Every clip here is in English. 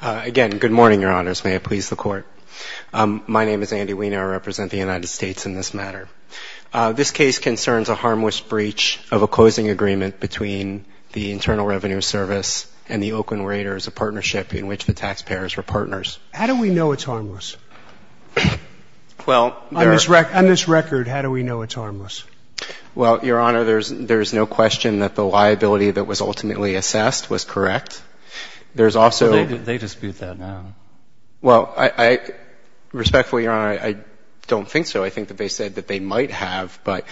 Court. My name is Andy Wiener. I represent the United States in this matter. This case concerns a harmless breach of a closing agreement between the Internal Revenue Service and the Oakland Raiders, a partnership in which the taxpayers were partners. How do we know it's harmless? On this record, how do we know it's harmless? Well, Your Honor, there's no question that the liability that was ultimately assessed was correct. There's also — Well, they dispute that now. Well, respectfully, Your Honor, I don't think so. I think that they said that they might have, but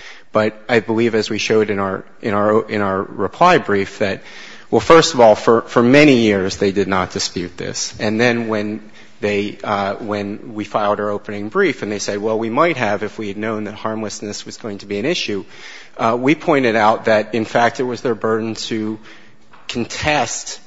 I believe, as we showed in our reply brief, that, well, first of all, for many years they did not dispute this. And then when they — when we filed our opening brief and they said, well, we might have if we had known that harmlessness was going to be an issue, we pointed out that, in fact, it was their burden to contest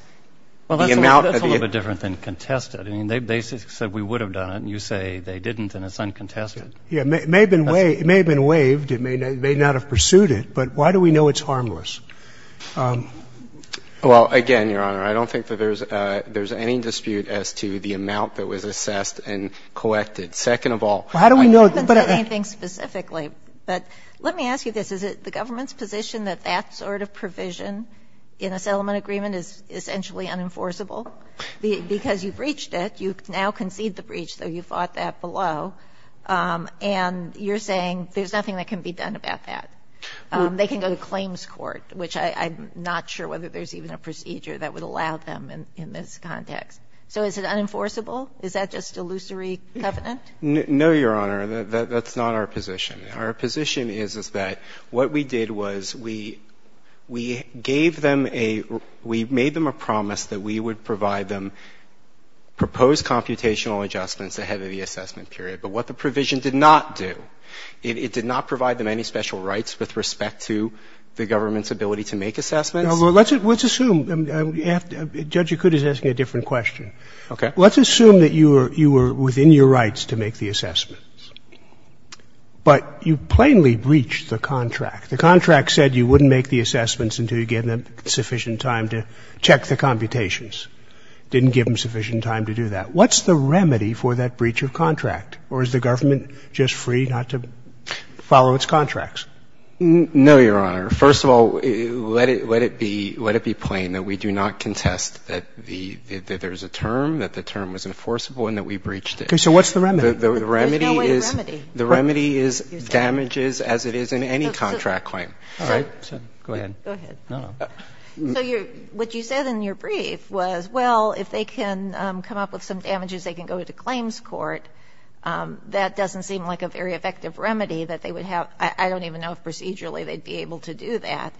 the amount of the — Well, that's a little bit different than contest it. I mean, they said we would have done it, and you say they didn't, and it's uncontested. Yeah. It may have been waived. It may not have pursued it. But why do we know it's harmless? Well, again, Your Honor, I don't think that there's any dispute as to the amount that was assessed and collected. Second of all — Well, how do we know — I haven't said anything specifically, but let me ask you this. Is it the government's position that that sort of provision in a settlement agreement is essentially unenforceable? Because you breached it. You now concede the breach, though you fought that below. And you're saying there's nothing that can be done about that. They can go to claims court, which I'm not sure whether there's even a procedure that would allow them in this context. So is it unenforceable? Is that just illusory covenant? No, Your Honor. That's not our position. Our position is that what we did was we gave them a — we made them a promise that we would provide them proposed computational adjustments ahead of the assessment period. But what the provision did not do, it did not provide them any special rights with respect to the government's ability to make assessments. Now, let's assume — Judge Acuta is asking a different question. Okay. Let's assume that you were within your rights to make the assessments, but you plainly breached the contract. The contract said you wouldn't make the assessments until you gave them sufficient time to check the computations. Didn't give them sufficient time to do that. What's the remedy for that breach of contract, or is the government just free not to follow its contracts? No, Your Honor. First of all, let it be plain that we do not contest that there's a term, that the term was enforceable, and that we breached it. Okay. So what's the remedy? There's no way to remedy. The remedy is damages as it is in any contract claim. All right. Go ahead. Go ahead. No, no. So what you said in your brief was, well, if they can come up with some damages, they can go to claims court. That doesn't seem like a very effective remedy that they would have. I don't even know if procedurally they'd be able to do that.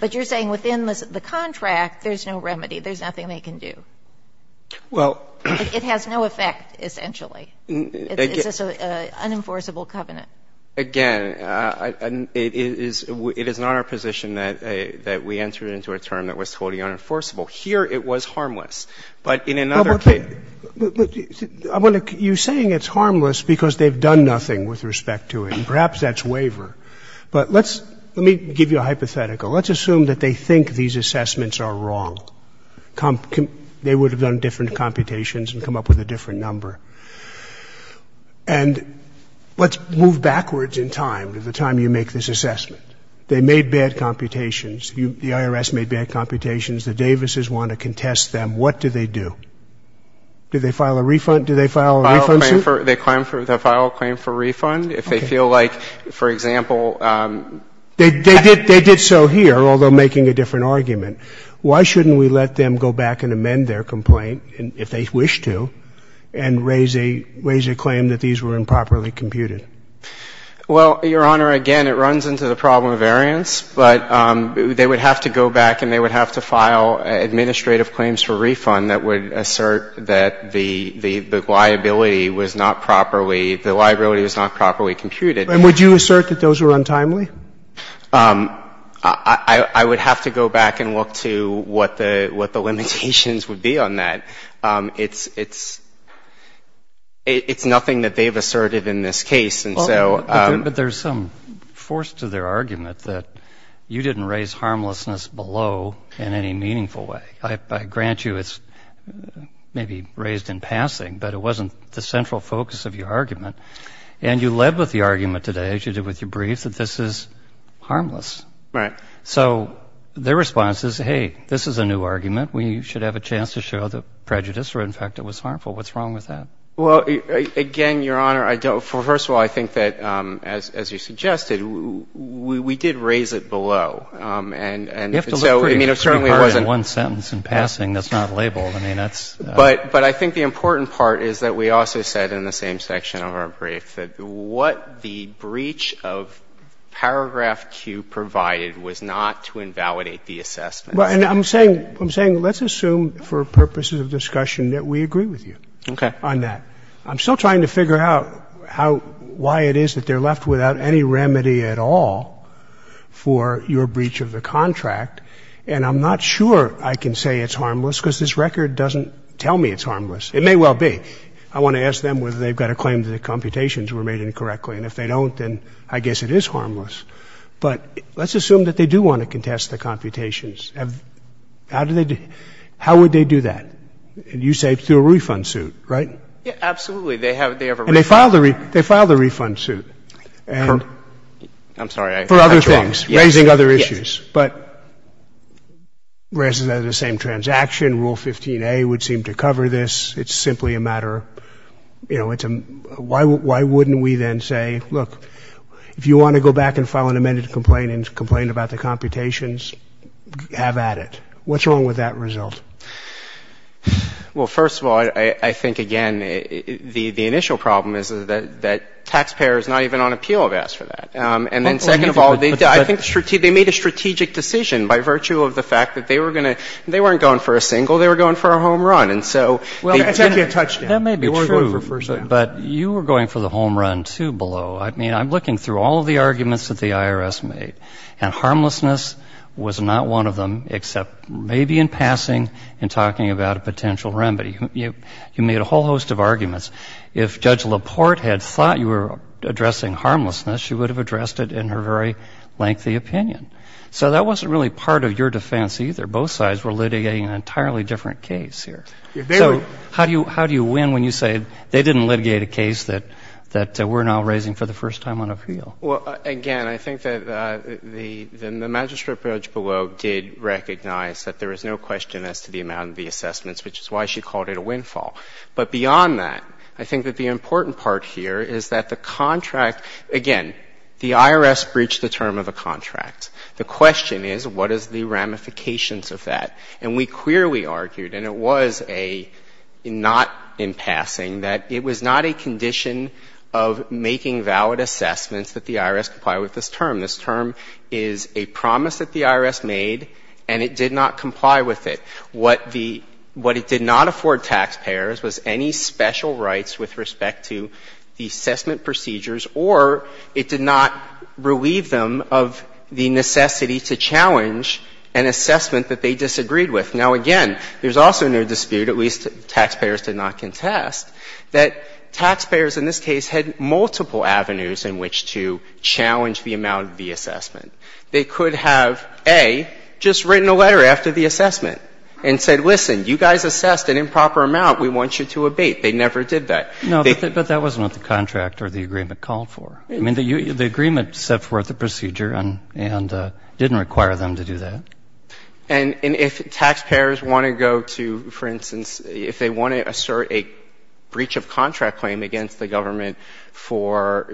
But you're saying within the contract, there's no remedy. There's nothing they can do. Well — It has no effect, essentially. It's just an unenforceable covenant. Again, it is not our position that we entered into a term that was totally unenforceable. Here it was harmless. But in another case — Well, but you're saying it's harmless because they've done nothing with respect to it. And perhaps that's waiver. But let's — let me give you a hypothetical. Let's assume that they think these assessments are wrong. They would have done different computations and come up with a different number. And let's move backwards in time to the time you make this assessment. They made bad computations. The IRS made bad computations. The Davises want to contest them. What do they do? Do they file a refund? Do they file a refund suit? They file a claim for refund if they feel like, for example — They did so here, although making a different argument. Why shouldn't we let them go back and amend their complaint, if they wish to, and raise a claim that these were improperly computed? Well, Your Honor, again, it runs into the problem of variance. But they would have to go back and they would have to file administrative claims for refund that would assert that the liability was not properly — the liability was not properly computed. And would you assert that those were untimely? I would have to go back and look to what the limitations would be on that. It's nothing that they've asserted in this case. And so — But there's some force to their argument that you didn't raise harmlessness below in any meaningful way. I grant you it's maybe raised in passing, but it wasn't the central focus of your argument. And you led with the argument today, as you did with your brief, that this is harmless. Right. So their response is, hey, this is a new argument. We should have a chance to show the prejudice or, in fact, it was harmful. What's wrong with that? Well, again, Your Honor, first of all, I think that, as you suggested, we did raise it below. And so, I mean, it certainly wasn't — You have to look pretty hard at one sentence in passing that's not labeled. I mean, that's — But I think the important part is that we also said in the same section of our brief that what the breach of paragraph Q provided was not to invalidate the assessment. And I'm saying — I'm saying let's assume for purposes of discussion that we agree with you on that. Okay. I'm still trying to figure out how — why it is that they're left without any remedy at all for your breach of the contract. And I'm not sure I can say it's harmless because this record doesn't tell me it's harmless. It may well be. I want to ask them whether they've got a claim that the computations were made incorrectly. And if they don't, then I guess it is harmless. But let's assume that they do want to contest the computations. How do they — how would they do that? You say through a refund suit, right? Yeah, absolutely. They have a — And they filed a — they filed a refund suit. I'm sorry. For other things. Raising other issues. But raising the same transaction, Rule 15a would seem to cover this. It's simply a matter — you know, it's a — why wouldn't we then say, look, if you want to go back and file an amended complaint and complain about the computations, have at it. What's wrong with that result? Well, first of all, I think, again, the initial problem is that taxpayers not even on appeal have asked for that. And then second of all, I think they made a strategic decision by virtue of the fact that they were going to — they weren't going for a single, they were going for a home run. And so — Well, that's actually a touchdown. That may be true. But you were going for the home run, too, below. I mean, I'm looking through all of the arguments that the IRS made. And harmlessness was not one of them, except maybe in passing and talking about a potential remedy. You made a whole host of arguments. If Judge LaPorte had thought you were addressing harmlessness, she would have addressed it in her very lengthy opinion. So that wasn't really part of your defense, either. Both sides were litigating an entirely different case here. So how do you win when you say they didn't litigate a case that we're now raising for the first time on appeal? Well, again, I think that the magistrate approach below did recognize that there is no question as to the amount of the assessments, which is why she called it a windfall. But beyond that, I think that the important part here is that the contract — again, the IRS breached the term of the contract. The question is, what is the ramifications of that? And we clearly argued, and it was a — not in passing, that it was not a condition of making valid assessments that the IRS comply with this term. This term is a promise that the IRS made, and it did not comply with it. What the — what it did not afford taxpayers was any special rights with respect to the assessment procedures, or it did not relieve them of the necessity to challenge an assessment that they disagreed with. Now, again, there's also no dispute, at least taxpayers did not contest, that taxpayers in this case had multiple avenues in which to challenge the amount of the assessment. They could have, A, just written a letter after the assessment and said, listen, you guys assessed an improper amount. We want you to abate. They never did that. No, but that wasn't what the contract or the agreement called for. I mean, the agreement set forth a procedure and didn't require them to do that. And if taxpayers want to go to, for instance, if they want to assert a breach of contract claim against the government for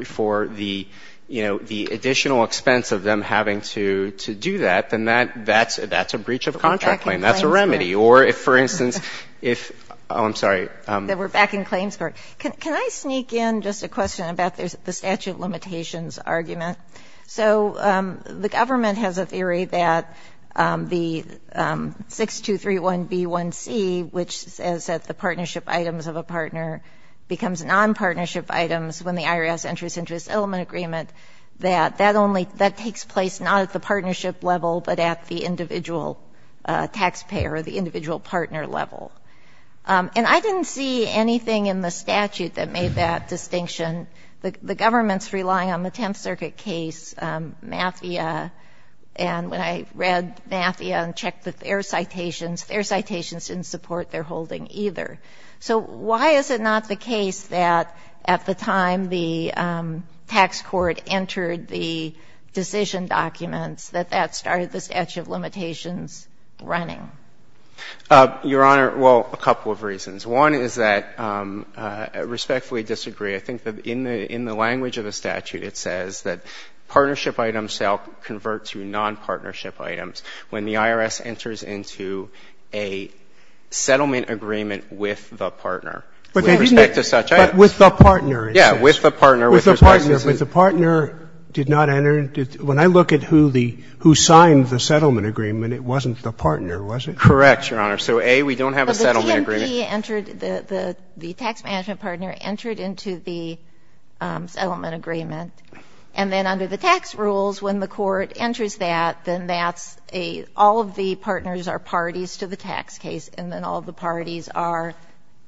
the, you know, the additional expense of them having to do that, then that's a breach of contract claim. That's a remedy. Or if, for instance, if — oh, I'm sorry. We're back in claims court. Can I sneak in just a question about the statute of limitations argument? So the government has a theory that the 6231B1C, which says that the partnership items of a partner becomes nonpartnership items when the IRS enters into a settlement agreement, that that only — that takes place not at the partnership level, but at the individual taxpayer or the individual partner level. And I didn't see anything in the statute that made that distinction. The government's relying on the Tenth Circuit case, MAFIA, and when I read MAFIA and checked their citations, their citations didn't support their holding either. So why is it not the case that at the time the tax court entered the decision documents, that that started the statute of limitations running? Your Honor, well, a couple of reasons. One is that I respectfully disagree. I think that in the language of the statute, it says that partnership items convert to nonpartnership items when the IRS enters into a settlement agreement with the partner. With respect to such items. But with the partner, it says. Yeah, with the partner. With the partner. But the partner did not enter — when I look at who the — who signed the settlement agreement, it wasn't the partner, was it? Correct, Your Honor. So, A, we don't have a settlement agreement. But the TMP entered — the tax management partner entered into the settlement agreement, and then under the tax rules, when the court enters that, then that's a — all of the partners are parties to the tax case, and then all of the parties are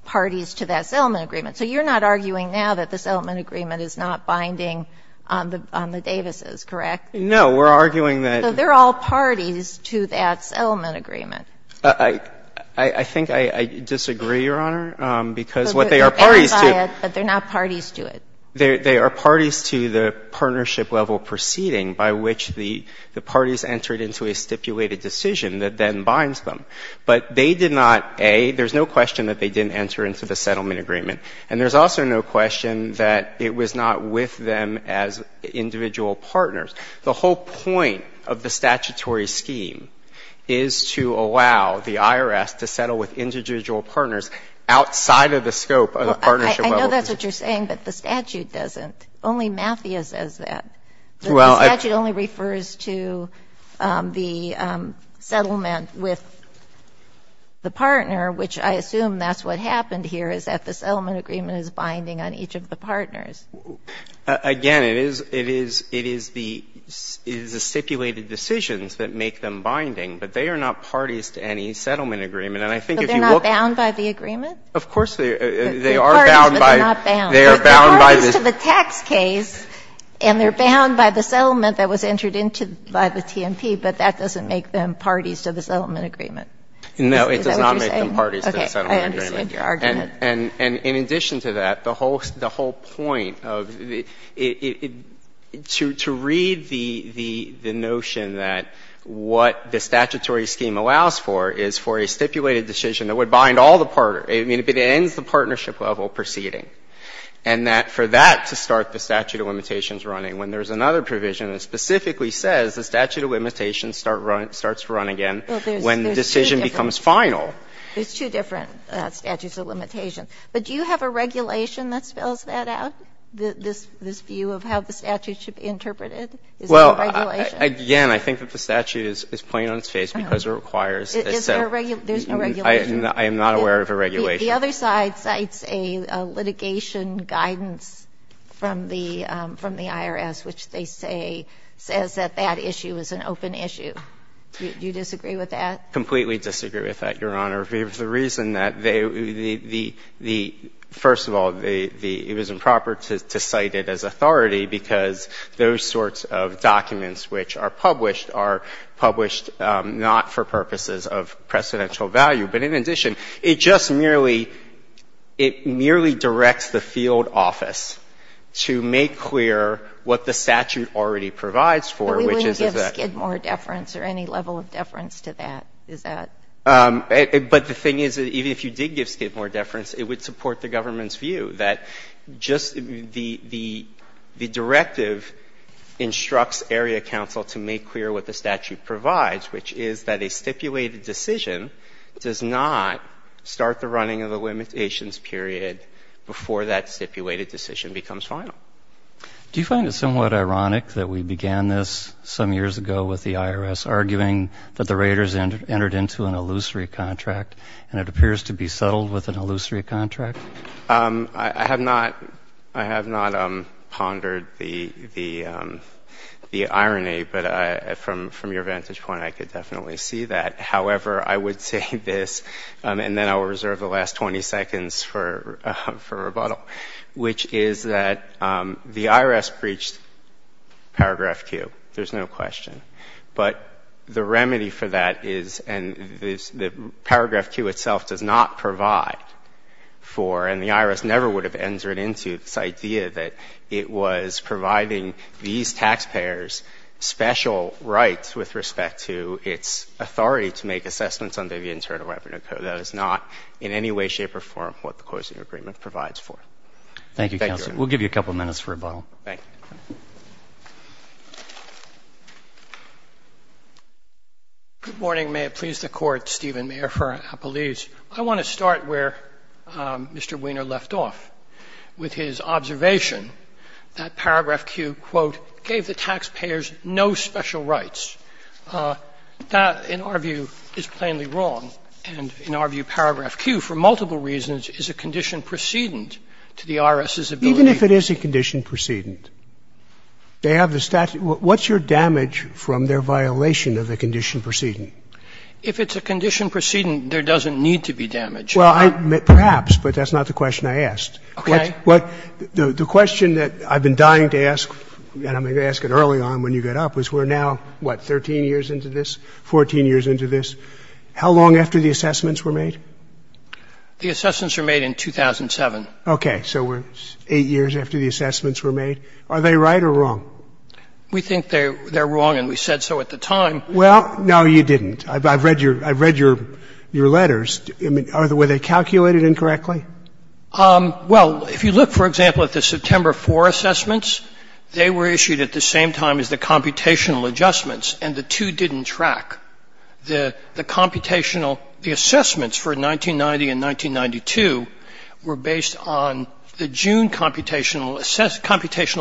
parties to that settlement agreement. So you're not arguing now that the settlement agreement is not binding on the — on the Davises, correct? No. We're arguing that. So they're all parties to that settlement agreement. I — I think I disagree, Your Honor, because what they are parties to. But they're not parties to it. They — they are parties to the partnership-level proceeding by which the — the parties entered into a stipulated decision that then binds them. But they did not — A, there's no question that they didn't enter into the settlement agreement. And there's also no question that it was not with them as individual partners. The whole point of the statutory scheme is to allow the IRS to settle with individual partners outside of the scope of the partnership level. I know that's what you're saying, but the statute doesn't. Only MAFIA says that. Well, I — The statute only refers to the settlement with the partner, which I assume that's what happened here, is that the settlement agreement is binding on each of the partners. Again, it is — it is — it is the — it is the stipulated decisions that make them binding, but they are not parties to any settlement agreement. And I think if you look — But they're not bound by the agreement? Of course they are. They're parties, but they're not bound. They are bound by the — They're parties to the tax case, and they're bound by the settlement that was entered into by the TNP, but that doesn't make them parties to the settlement agreement. Is that what you're saying? No, it does not make them parties to the settlement agreement. Okay. I understand your argument. And in addition to that, the whole — the whole point of the — to read the — the notion that what the statutory scheme allows for is for a stipulated decision that would bind all the partners — I mean, it ends the partnership level proceeding and that for that to start the statute of limitations running when there's another provision that specifically says the statute of limitations starts to run again when the decision becomes final. There's two different statutes of limitations. But do you have a regulation that spells that out, this view of how the statute should be interpreted? Is there a regulation? Well, again, I think that the statute is plain on its face because it requires a set — Is there a — there's no regulation? I am not aware of a regulation. The other side cites a litigation guidance from the IRS, which they say says that that issue is an open issue. Do you disagree with that? Completely disagree with that, Your Honor. The reason that they — the — the — first of all, the — it was improper to cite it as authority because those sorts of documents which are published not for purposes of precedential value. But in addition, it just merely — it merely directs the field office to make clear what the statute already provides for, which is that — But we wouldn't give Skidmore deference or any level of deference to that, is that — But the thing is that even if you did give Skidmore deference, it would support the government's view that just the — the directive instructs area counsel to make clear what the statute provides, which is that a stipulated decision does not start the running of a limitations period before that stipulated decision becomes final. Do you find it somewhat ironic that we began this some years ago with the IRS arguing that the Raiders entered into an illusory contract, and it appears to be settled with an illusory contract? I have not — I have not pondered the — the — the irony, but from — from your vantage point, I could definitely see that. However, I would say this, and then I will reserve the last 20 seconds for — for rebuttal, which is that the IRS breached Paragraph Q. There's no question. But the remedy for that is — and this — the Paragraph Q itself does not provide for — and the IRS never would have entered into this idea that it was providing these taxpayers special rights with respect to its authority to make assessments under the Internal Revenue Code. That is not in any way, shape, or form what the Coercion Agreement provides for. Thank you, counsel. We'll give you a couple minutes for rebuttal. Thank you. Good morning. May it please the Court, Stephen Mayer for Appelese. I want to start where Mr. Weiner left off with his observation that Paragraph Q, quote, gave the taxpayers no special rights. That, in our view, is plainly wrong, and in our view, Paragraph Q, for multiple reasons, is a condition precedent to the IRS's ability — Even if it is a condition precedent, they have the statute — What's your damage from their violation of the condition precedent? If it's a condition precedent, there doesn't need to be damage. Well, I — perhaps, but that's not the question I asked. Okay. The question that I've been dying to ask, and I'm going to ask it early on when you get up, is we're now, what, 13 years into this, 14 years into this? How long after the assessments were made? The assessments were made in 2007. Okay. So we're eight years after the assessments were made. Are they right or wrong? We think they're wrong, and we said so at the time. Well, no, you didn't. I've read your letters. Were they calculated incorrectly? Well, if you look, for example, at the September 4 assessments, they were issued at the same time as the computational adjustments, and the two didn't track. The computational — the assessments for 1990 and 1992 were based on the June computational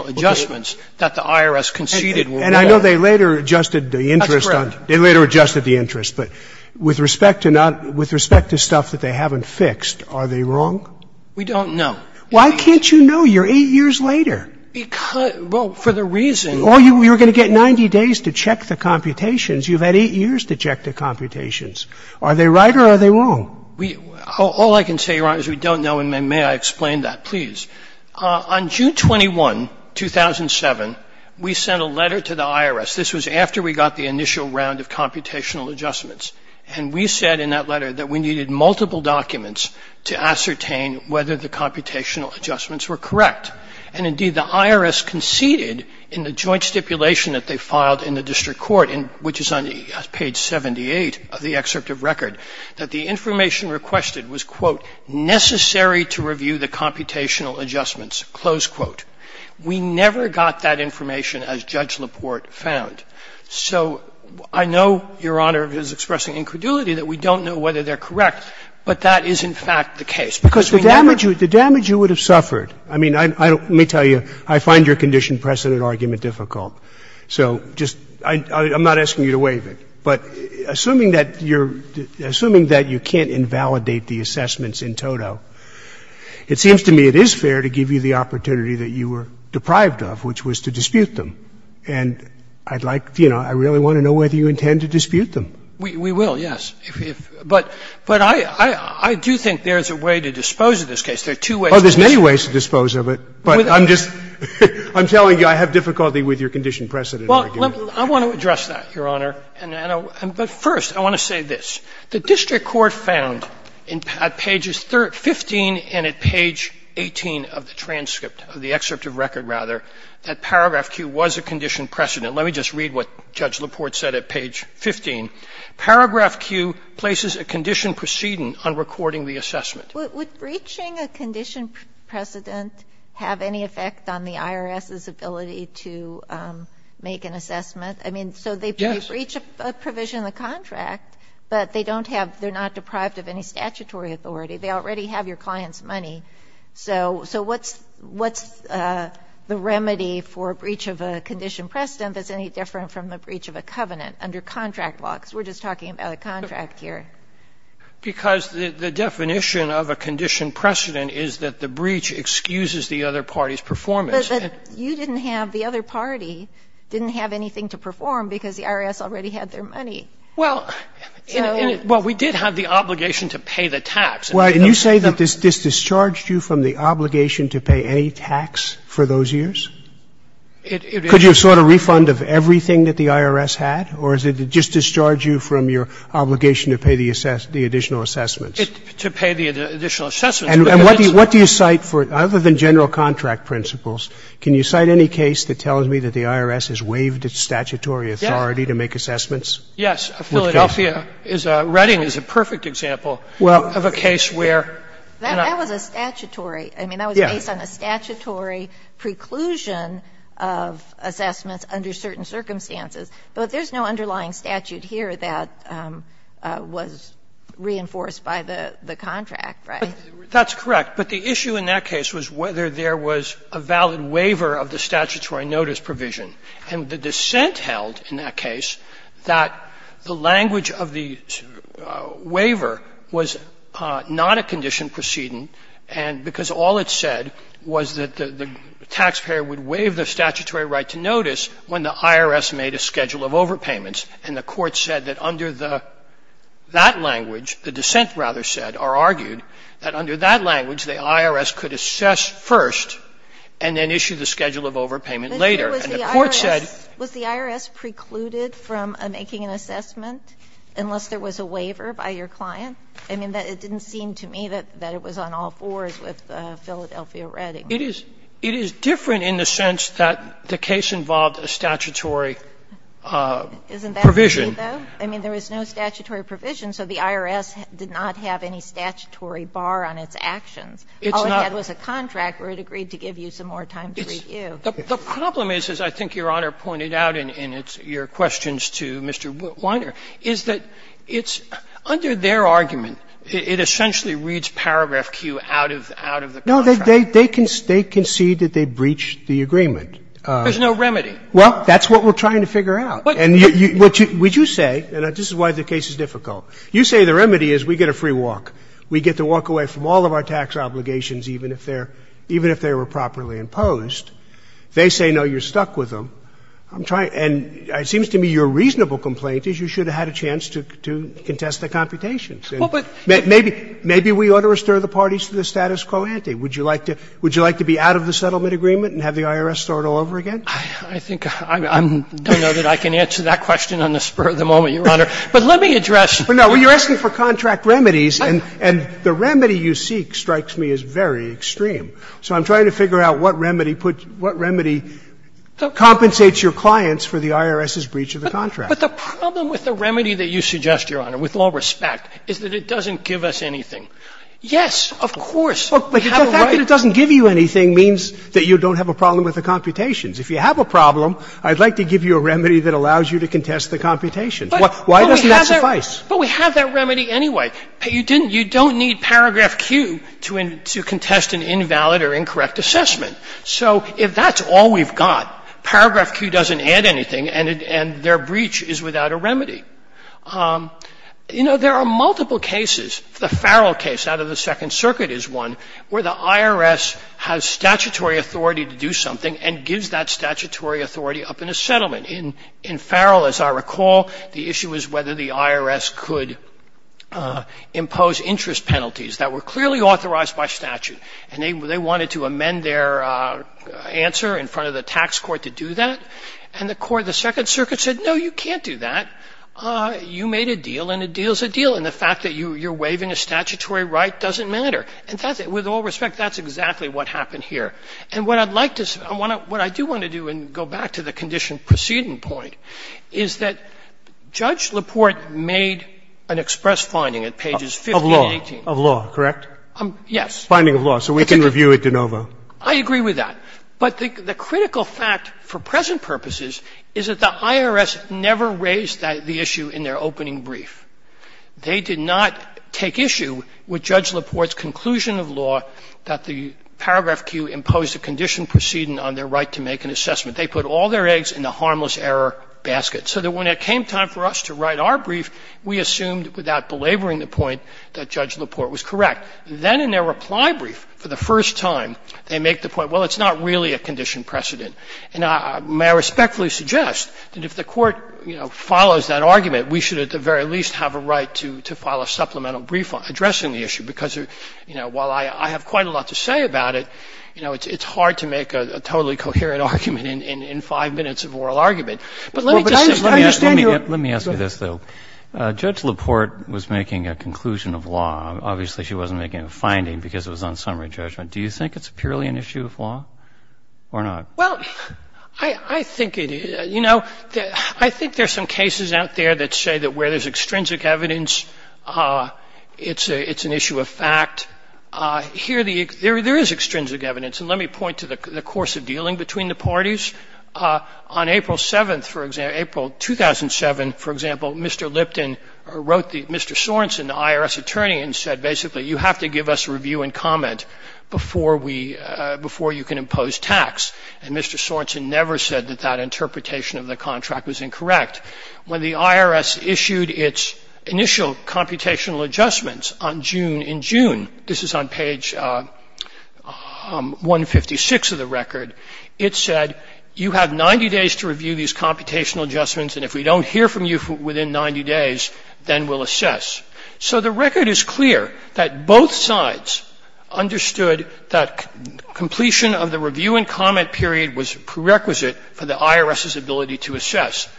adjustments that the IRS conceded were there. And I know they later adjusted the interest on — That's correct. They later adjusted the interest. But with respect to not — with respect to stuff that they haven't fixed, are they wrong? We don't know. Why can't you know? You're eight years later. Because — well, for the reason — Or you're going to get 90 days to check the computations. You've had eight years to check the computations. Are they right or are they wrong? We — all I can say, Your Honor, is we don't know, and may I explain that, please. On June 21, 2007, we sent a letter to the IRS. This was after we got the initial round of computational adjustments. And we said in that letter that we needed multiple documents to ascertain whether the computational adjustments were correct. And, indeed, the IRS conceded in the joint stipulation that they filed in the district court, which is on page 78 of the excerpt of record, that the information requested was, quote, necessary to review the computational adjustments, close quote. We never got that information, as Judge LaPorte found. So I know, Your Honor, it is expressing incredulity that we don't know whether they're correct, but that is, in fact, the case. Because we never — The damage you would have suffered, I mean, I don't — let me tell you, I find your condition precedent argument difficult. So just — I'm not asking you to waive it. But assuming that you're — assuming that you can't invalidate the assessments in toto, it seems to me it is fair to give you the opportunity that you were deprived of, which was to dispute them. And I'd like to — you know, I really want to know whether you intend to dispute them. We will, yes. But I do think there's a way to dispose of this case. There are two ways to dispose of it. Oh, there's many ways to dispose of it, but I'm just — I'm telling you I have difficulty with your condition precedent argument. I want to address that, Your Honor. But first, I want to say this. The district court found at pages 15 and at page 18 of the transcript, of the excerpt of record, rather, that paragraph Q was a condition precedent. Let me just read what Judge LaPorte said at page 15. Paragraph Q places a condition precedent on recording the assessment. Would breaching a condition precedent have any effect on the IRS's ability to make an assessment? I mean, so they breach a provision of the contract, but they don't have — they're not deprived of any statutory authority. They already have your client's money. So what's the remedy for a breach of a condition precedent that's any different from a breach of a covenant under contract law? Because we're just talking about a contract here. Because the definition of a condition precedent is that the breach excuses the other party's performance. But you didn't have — the other party didn't have anything to perform because the IRS already had their money. Well, we did have the obligation to pay the tax. Well, and you say that this discharged you from the obligation to pay any tax for those years? Could you have sought a refund of everything that the IRS had? Or did it just discharge you from your obligation to pay the additional assessments? To pay the additional assessments. And what do you cite for — other than general contract principles, can you cite any case that tells me that the IRS has waived its statutory authority to make assessments? Yes. Philadelphia is a — Reading is a perfect example of a case where — That was a statutory — I mean, that was based on a statutory preclusion of assessments under certain circumstances. But there's no underlying statute here that was reinforced by the contract, right? That's correct. But the issue in that case was whether there was a valid waiver of the statutory notice provision. And the dissent held in that case that the language of the waiver was not a condition precedent and — because all it said was that the taxpayer would waive the statutory right to notice when the IRS made a schedule of overpayments. And the Court said that under the — that language, the dissent rather said or argued that under that language, the IRS could assess first and then issue the schedule of overpayment later. And the Court said — Was the IRS precluded from making an assessment unless there was a waiver by your client? I mean, it didn't seem to me that it was on all fours with Philadelphia Reading. It is different in the sense that the case involved a statutory provision. I mean, there was no statutory provision, so the IRS did not have any statutory bar on its actions. All it had was a contract where it agreed to give you some more time to review. The problem is, as I think Your Honor pointed out in your questions to Mr. Weiner, is that it's — under their argument, it essentially reads paragraph Q out of the contract. No, they concede that they breached the agreement. There's no remedy. Well, that's what we're trying to figure out. And what you — would you say, and this is why the case is difficult, you say the remedy is we get a free walk. We get to walk away from all of our tax obligations, even if they're — even if they were properly imposed. They say, no, you're stuck with them. I'm trying — and it seems to me your reasonable complaint is you should have had a chance to contest the computations. Well, but — Maybe — maybe we ought to restore the parties to the status quo ante. Would you like to — would you like to be out of the settlement agreement and have the IRS start all over again? I think I'm — I don't know that I can answer that question on the spur of the moment, Your Honor. But let me address — No, you're asking for contract remedies, and the remedy you seek strikes me as very extreme. So I'm trying to figure out what remedy puts — what remedy compensates your clients for the IRS's breach of the contract. But the problem with the remedy that you suggest, Your Honor, with all respect, is that it doesn't give us anything. Yes, of course, we have a right to — But the fact that it doesn't give you anything means that you don't have a problem with the computations. If you have a problem, I'd like to give you a remedy that allows you to contest the computations. Why doesn't that suffice? But we have that remedy anyway. You didn't — you don't need paragraph Q to contest an invalid or incorrect assessment. So if that's all we've got, paragraph Q doesn't add anything, and their breach is without a remedy. You know, there are multiple cases. The Farrell case out of the Second Circuit is one where the IRS has statutory authority to do something and gives that statutory authority up in a settlement. In Farrell, as I recall, the issue was whether the IRS could impose interest penalties that were clearly authorized by statute, and they wanted to amend their answer in front of the tax court to do that. And the court of the Second Circuit said, no, you can't do that. You made a deal, and a deal's a deal, and the fact that you're waiving a statutory right doesn't matter. And that's — with all respect, that's exactly what happened here. And what I'd like to — what I do want to do and go back to the condition proceeding point is that Judge LaPorte made an express finding at pages 15 and 18. Roberts. Of law, of law, correct? Yes. Finding of law, so we can review it de novo. I agree with that. But the critical fact for present purposes is that the IRS never raised the issue in their opening brief. They did not take issue with Judge LaPorte's conclusion of law that the paragraph Q imposed a condition proceeding on their right to make an assessment. They put all their eggs in the harmless error basket, so that when it came time for us to write our brief, we assumed without belaboring the point that Judge LaPorte was correct. Then in their reply brief, for the first time, they make the point, well, it's not really a condition precedent. And I respectfully suggest that if the Court, you know, follows that argument, we should at the very least have a right to file a supplemental brief addressing the issue, because, you know, while I have quite a lot to say about it, you know, it's hard to make a totally coherent argument in five minutes of oral argument. But let me just say this. Let me ask you this, though. Judge LaPorte was making a conclusion of law. Obviously, she wasn't making a finding because it was on summary judgment. Do you think it's purely an issue of law or not? Well, I think it is. You know, I think there's some cases out there that say that where there's extrinsic evidence, it's an issue of fact. Here, there is extrinsic evidence. And let me point to the course of dealing between the parties. On April 7th, for example, April 2007, for example, Mr. Lipton wrote the Mr. Sorenson, the IRS attorney, and said basically, you have to give us a review and comment before we – before you can impose tax. And Mr. Sorenson never said that that interpretation of the contract was incorrect. When the IRS issued its initial computational adjustments on June – in June, this is on page 156 of the record – it said, you have 90 days to review these computational adjustments, and if we don't hear from you within 90 days, then we'll assess. So the record is clear that both sides understood that completion of the review and comment period was prerequisite for the IRS's ability to assess.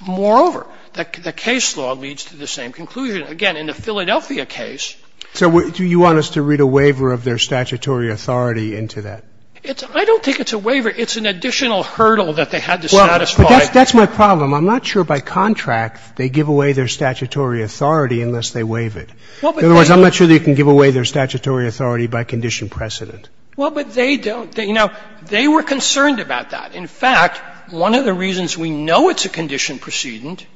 Moreover, the case law leads to the same conclusion. Again, in the Philadelphia case – So do you want us to read a waiver of their statutory authority into that? It's – I don't think it's a waiver. It's an additional hurdle that they had to satisfy. Well, but that's my problem. I'm not sure by contract they give away their statutory authority unless they waive it. In other words, I'm not sure they can give away their statutory authority by condition precedent. Well, but they don't – you know, they were concerned about that. In fact, one of the reasons we know it's a condition precedent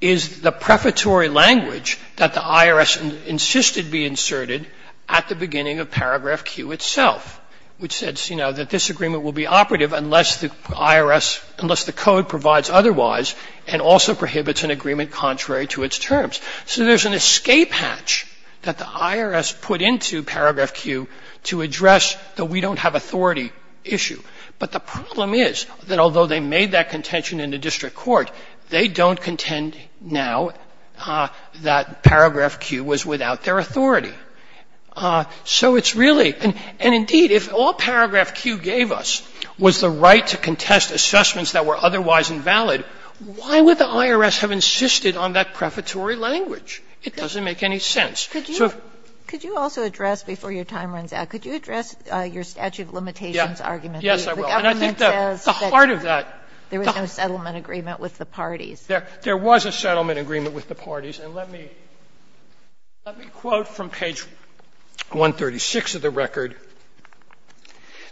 is the prefatory language that the IRS insisted be inserted at the beginning of paragraph Q itself, which says, you know, that this agreement will be operative unless the IRS – unless the code provides otherwise and also prohibits an agreement contrary to its terms. So there's an escape hatch that the IRS put into paragraph Q to address the we don't have authority issue. But the problem is that although they made that contention in the district court, they don't contend now that paragraph Q was without their authority. So it's really – and indeed, if all paragraph Q gave us was the right to contest assessments that were otherwise invalid, why would the IRS have insisted on that prefatory language? It doesn't make any sense. So if – Could you also address, before your time runs out, could you address your statute of limitations argument? Yes, I will. And I think that the heart of that – There was no settlement agreement with the parties. There was a settlement agreement with the parties. And let me quote from page 136 of the record.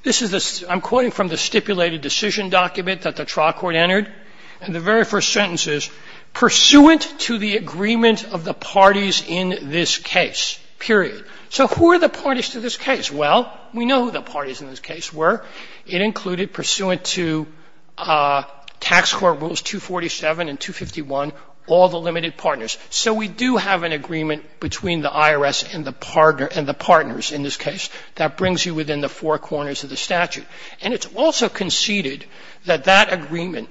This is the – I'm quoting from the stipulated decision document that the trial court entered. And the very first sentence is, pursuant to the agreement of the parties in this case, period. So who are the parties to this case? Well, we know who the parties in this case were. It included pursuant to Tax Court Rules 247 and 251, all the limited partners. So we do have an agreement between the IRS and the partner – and the partners in this case. That brings you within the four corners of the statute. And it's also conceded that that agreement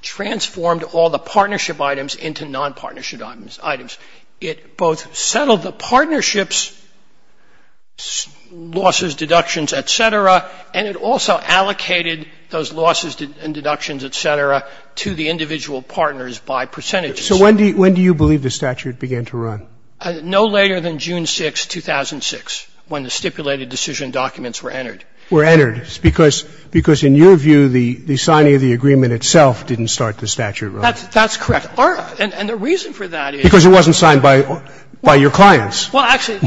transformed all the partnership items into non-partnership items. It both settled the partnerships' losses, deductions, et cetera. And it also allocated those losses and deductions, et cetera, to the individual partners by percentages. So when do you believe the statute began to run? No later than June 6, 2006, when the stipulated decision documents were entered. Were entered? Because in your view, the signing of the agreement itself didn't start the statute running. That's correct. And the reason for that is – Because it wasn't signed by your clients. Well, actually,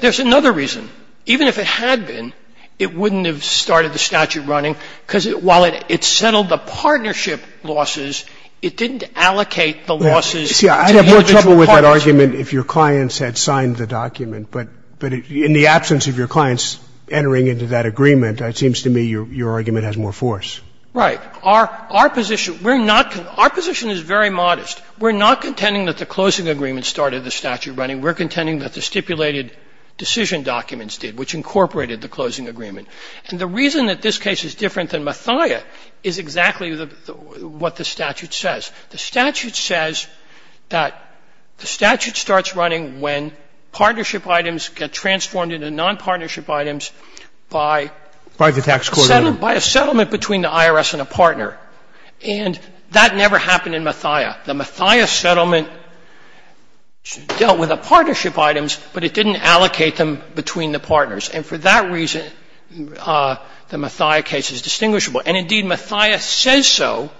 there's another reason. Even if it had been, it wouldn't have started the statute running, because while it settled the partnership losses, it didn't allocate the losses to the individual partners. See, I'd have more trouble with that argument if your clients had signed the document. But in the absence of your clients entering into that agreement, it seems to me your argument has more force. Right. Our position – we're not – our position is very modest. We're not contending that the closing agreement started the statute running. We're contending that the stipulated decision documents did, which incorporated the closing agreement. And the reason that this case is different than Mathia is exactly what the statute says. The statute says that the statute starts running when partnership items get transformed into nonpartnership items by – By the tax court. By a settlement between the IRS and a partner. And that never happened in Mathia. The Mathia settlement dealt with the partnership items, but it didn't allocate them between the partners. And for that reason, the Mathia case is distinguishable. And, indeed, Mathia says so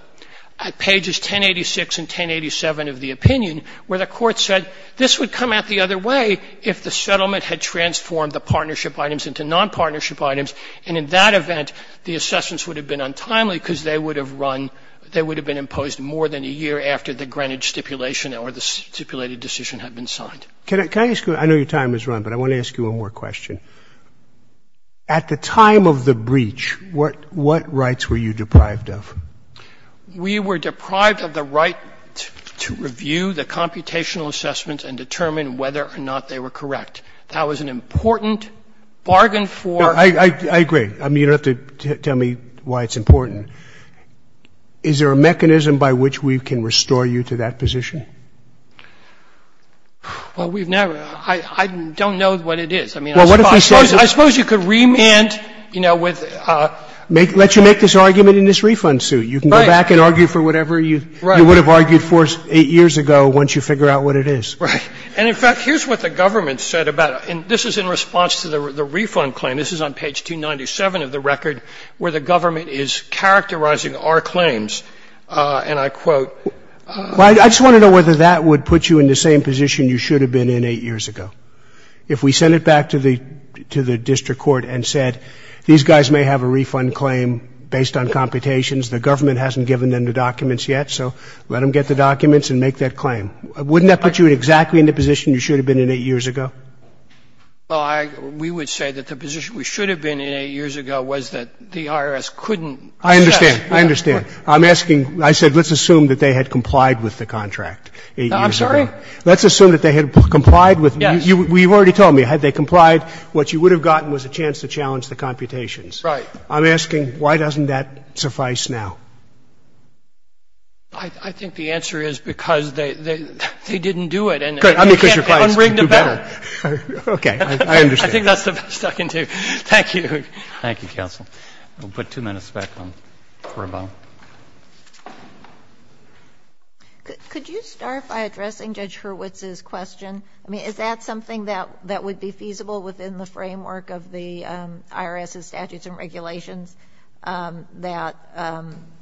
at pages 1086 and 1087 of the opinion, where the court said this would come out the other way if the settlement had transformed the partnership items into nonpartnership items. And in that event, the assessments would have been untimely because they would have run – they would have been imposed more than a year after the Greenwich stipulation or the stipulated decision had been signed. Can I ask you – I know your time has run, but I want to ask you one more question. At the time of the breach, what rights were you deprived of? We were deprived of the right to review the computational assessments and determine whether or not they were correct. That was an important bargain for – I agree. I mean, you don't have to tell me why it's important. Is there a mechanism by which we can restore you to that position? Well, we've never – I don't know what it is. I mean, I suppose you could remand, you know, with – Let you make this argument in this refund suit. You can go back and argue for whatever you would have argued for eight years ago once you figure out what it is. Right. And in fact, here's what the government said about – and this is in response to the refund claim. This is on page 297 of the record, where the government is characterizing our claims, and I quote – Well, I just want to know whether that would put you in the same position you should have been in eight years ago. If we sent it back to the district court and said, these guys may have a refund claim based on computations, the government hasn't given them the documents yet, so let them get the documents and make that claim, wouldn't that put you exactly in the position you should have been in eight years ago? Well, we would say that the position we should have been in eight years ago was that the IRS couldn't assess. I understand. I understand. I'm asking – I said let's assume that they had complied with the contract eight years ago. I'm sorry? Let's assume that they had complied with – you've already told me. Had they complied, what you would have gotten was a chance to challenge the computations. Right. I'm asking why doesn't that suffice now? I think the answer is because they didn't do it. Good. I mean, because your clients can't do better. Unring the bell. Okay. I understand. I think that's the best I can do. Thank you. Thank you, counsel. We'll put two minutes back for rebuttal. Could you start by addressing Judge Hurwitz's question? I mean, is that something that would be feasible within the framework of the IRS's statutes and regulations, that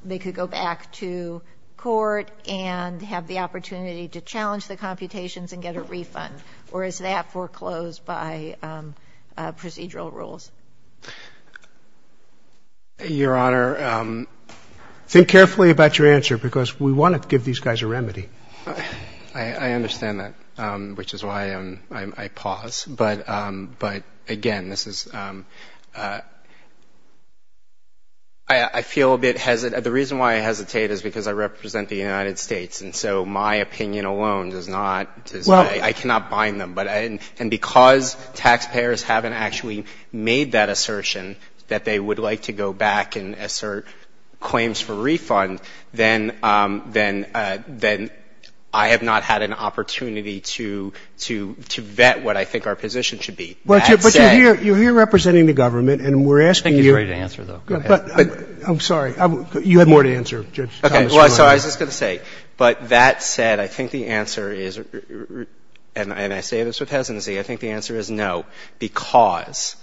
they could go back to court and have the opportunity to challenge the computations and get a refund? Or is that foreclosed by procedural rules? Your Honor, think carefully about your answer, because we want to give these guys a remedy. I understand that, which is why I pause. But again, this is – I feel a bit – the reason why I hesitate is because I represent the United States, and so my opinion alone does not – I cannot bind them. But – and because taxpayers haven't actually made that assertion, that they would like to go back and assert claims for refund, then I have not had an opportunity to vet what I think our position should be. But you're here representing the government, and we're asking you – I think he's ready to answer, though. Go ahead. I'm sorry. You have more to answer, Judge Thomas. Okay. Well, I was just going to say, but that said, I think the answer is – and I say this with hesitancy – I think the answer is no, because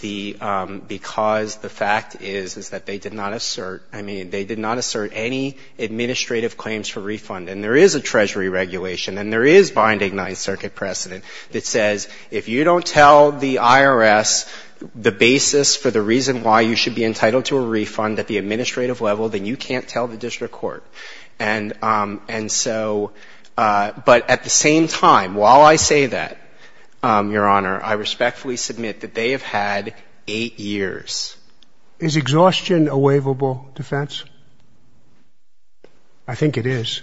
the fact is, is that they did not assert – I mean, they did not assert any administrative claims for refund. And there is a Treasury regulation, and there is binding Ninth Circuit precedent that says if you don't tell the IRS the basis for the reason why you should be entitled to a refund at the administrative level, then you can't tell the district court. And so – but at the same time, while I say that, Your Honor, I respectfully submit that they have had eight years. Is exhaustion a waivable defense? I think it is.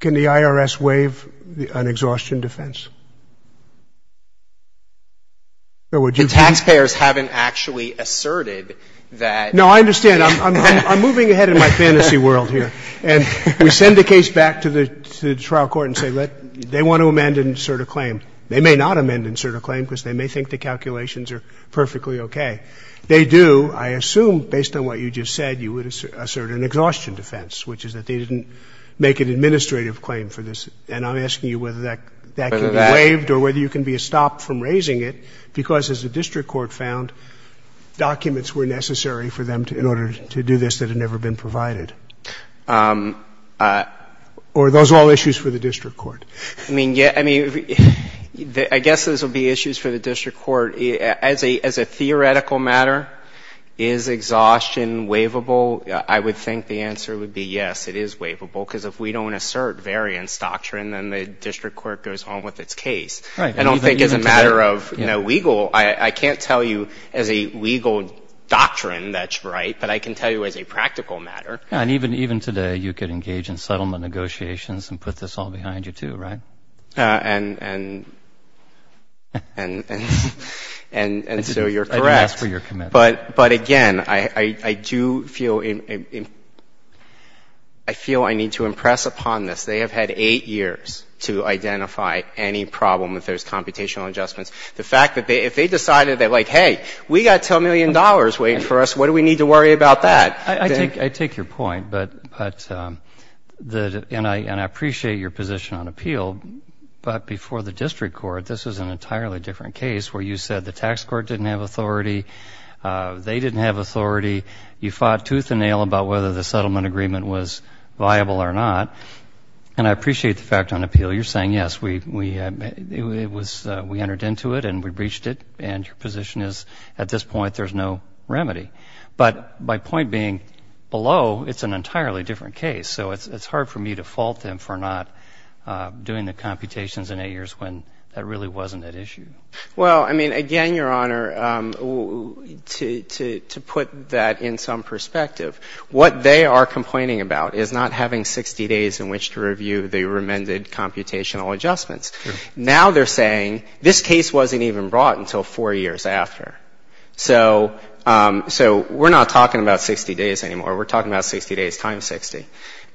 Can the IRS waive an exhaustion defense? The taxpayers haven't actually asserted that – No, I understand. I'm moving ahead in my fantasy world here. And we send the case back to the trial court and say, they want to amend and assert a claim. They may not amend and assert a claim, because they may think the calculations are perfectly okay. They do, I assume, based on what you just said, you would assert an exhaustion defense, which is that they didn't make an administrative claim for this. And I'm asking you whether that can be waived or whether you can be stopped from raising it, because as the district court found, documents were necessary for them in order to do this that had never been provided. Or are those all issues for the district court? I mean, yeah – I mean, I guess those would be issues for the district court. As a theoretical matter, is exhaustion waivable? I would think the answer would be yes, it is waivable, because if we don't assert variance doctrine, then the district court goes home with its case. Right. I don't think it's a matter of, you know, legal – I can't tell you as a legal doctrine that's right, but I can tell you as a practical matter. And even today, you could engage in settlement negotiations and put this all behind you, too, right? And so you're correct. I didn't ask for your commitment. But, again, I do feel – I feel I need to impress upon this. They have had eight years to identify any problem if there's computational adjustments. The fact that they – if they decided that, like, hey, we've got $10 million waiting for us, what do we need to worry about that? I take your point, but – and I appreciate your position on appeal, but before the district court, this was an entirely different case where you said the tax court didn't have authority, they didn't have authority, you fought tooth and nail about whether the settlement agreement was viable or not. And I appreciate the fact on appeal, you're saying, yes, we – it was – we had no remedy. But my point being, below, it's an entirely different case, so it's hard for me to fault them for not doing the computations in eight years when that really wasn't at issue. Well, I mean, again, Your Honor, to put that in some perspective, what they are complaining about is not having 60 days in which to review the remended computational adjustments. Now they're saying this case wasn't even brought until four years after. So – so we're not talking about 60 days anymore. We're talking about 60 days times 60.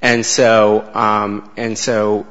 And so – and so,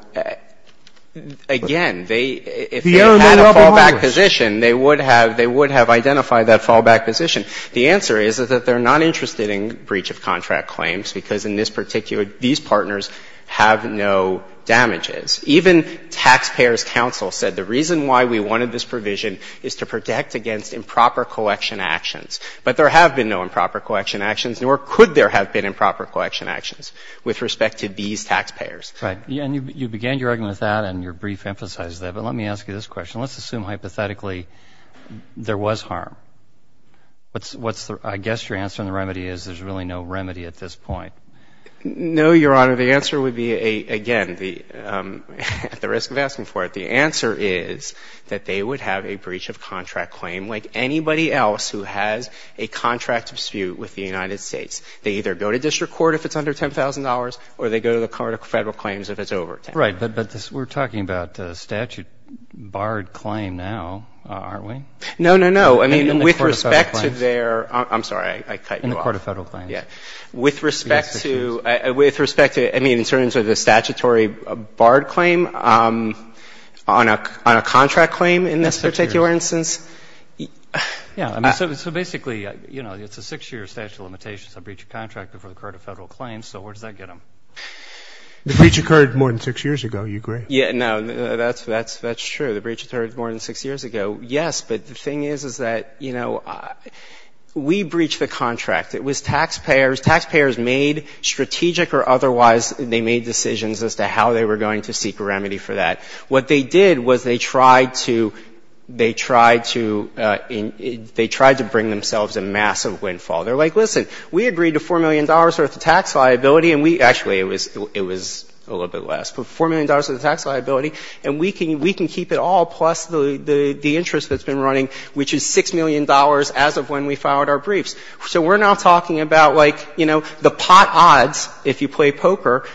again, they – if they had a fallback position, they would have – they would have identified that fallback position. The answer is that they're not interested in breach of contract claims because in this particular – these partners have no damages. Even taxpayers' counsel said the reason why we wanted this provision is to protect against improper collection actions. But there have been no improper collection actions, nor could there have been improper collection actions with respect to these taxpayers. Right. And you began your argument with that, and your brief emphasized that. But let me ask you this question. Let's assume, hypothetically, there was harm. What's the – I guess your answer on the remedy is there's really no remedy at this point. No, Your Honor. The answer would be, again, the – at the risk of asking for it, the answer is that they would have a breach of contract claim like anybody else who has a contract dispute with the United States. They either go to district court if it's under $10,000, or they go to the court of Federal claims if it's over $10,000. Right. But this – we're talking about a statute-barred claim now, aren't we? No, no, no. I mean, with respect to their – I'm sorry. I cut you off. In the court of Federal claims. Yeah. With respect to – with respect to – I mean, in terms of the statutory barred claim, on a contract claim in this particular instance. Yeah. So basically, you know, it's a six-year statute of limitations. A breach of contract before the court of Federal claims. So where does that get them? The breach occurred more than six years ago. You agree? Yeah. No, that's true. The breach occurred more than six years ago, yes. But the thing is, is that, you know, we breached the contract. It was taxpayers. Taxpayers made strategic or otherwise – they made decisions as to how they were going to seek a remedy for that. What they did was they tried to – they tried to – they tried to bring themselves a massive windfall. They're like, listen, we agreed to $4 million worth of tax liability, and we – actually, it was – it was a little bit less, but $4 million worth of tax liability, and we can – we can keep it all, plus the interest that's been running, which is $6 million as of when we filed our briefs. So we're now talking about, like, you know, the pot odds, if you play poker,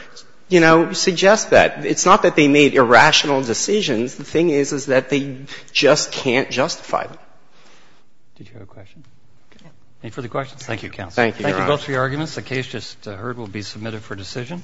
you know, suggest that. It's not that they made irrational decisions. The thing is, is that they just can't justify them. Did you have a question? Yeah. Any further questions? Thank you, counsel. Thank you, Your Honor. Thank you both for your arguments. The case just heard will be submitted for decision.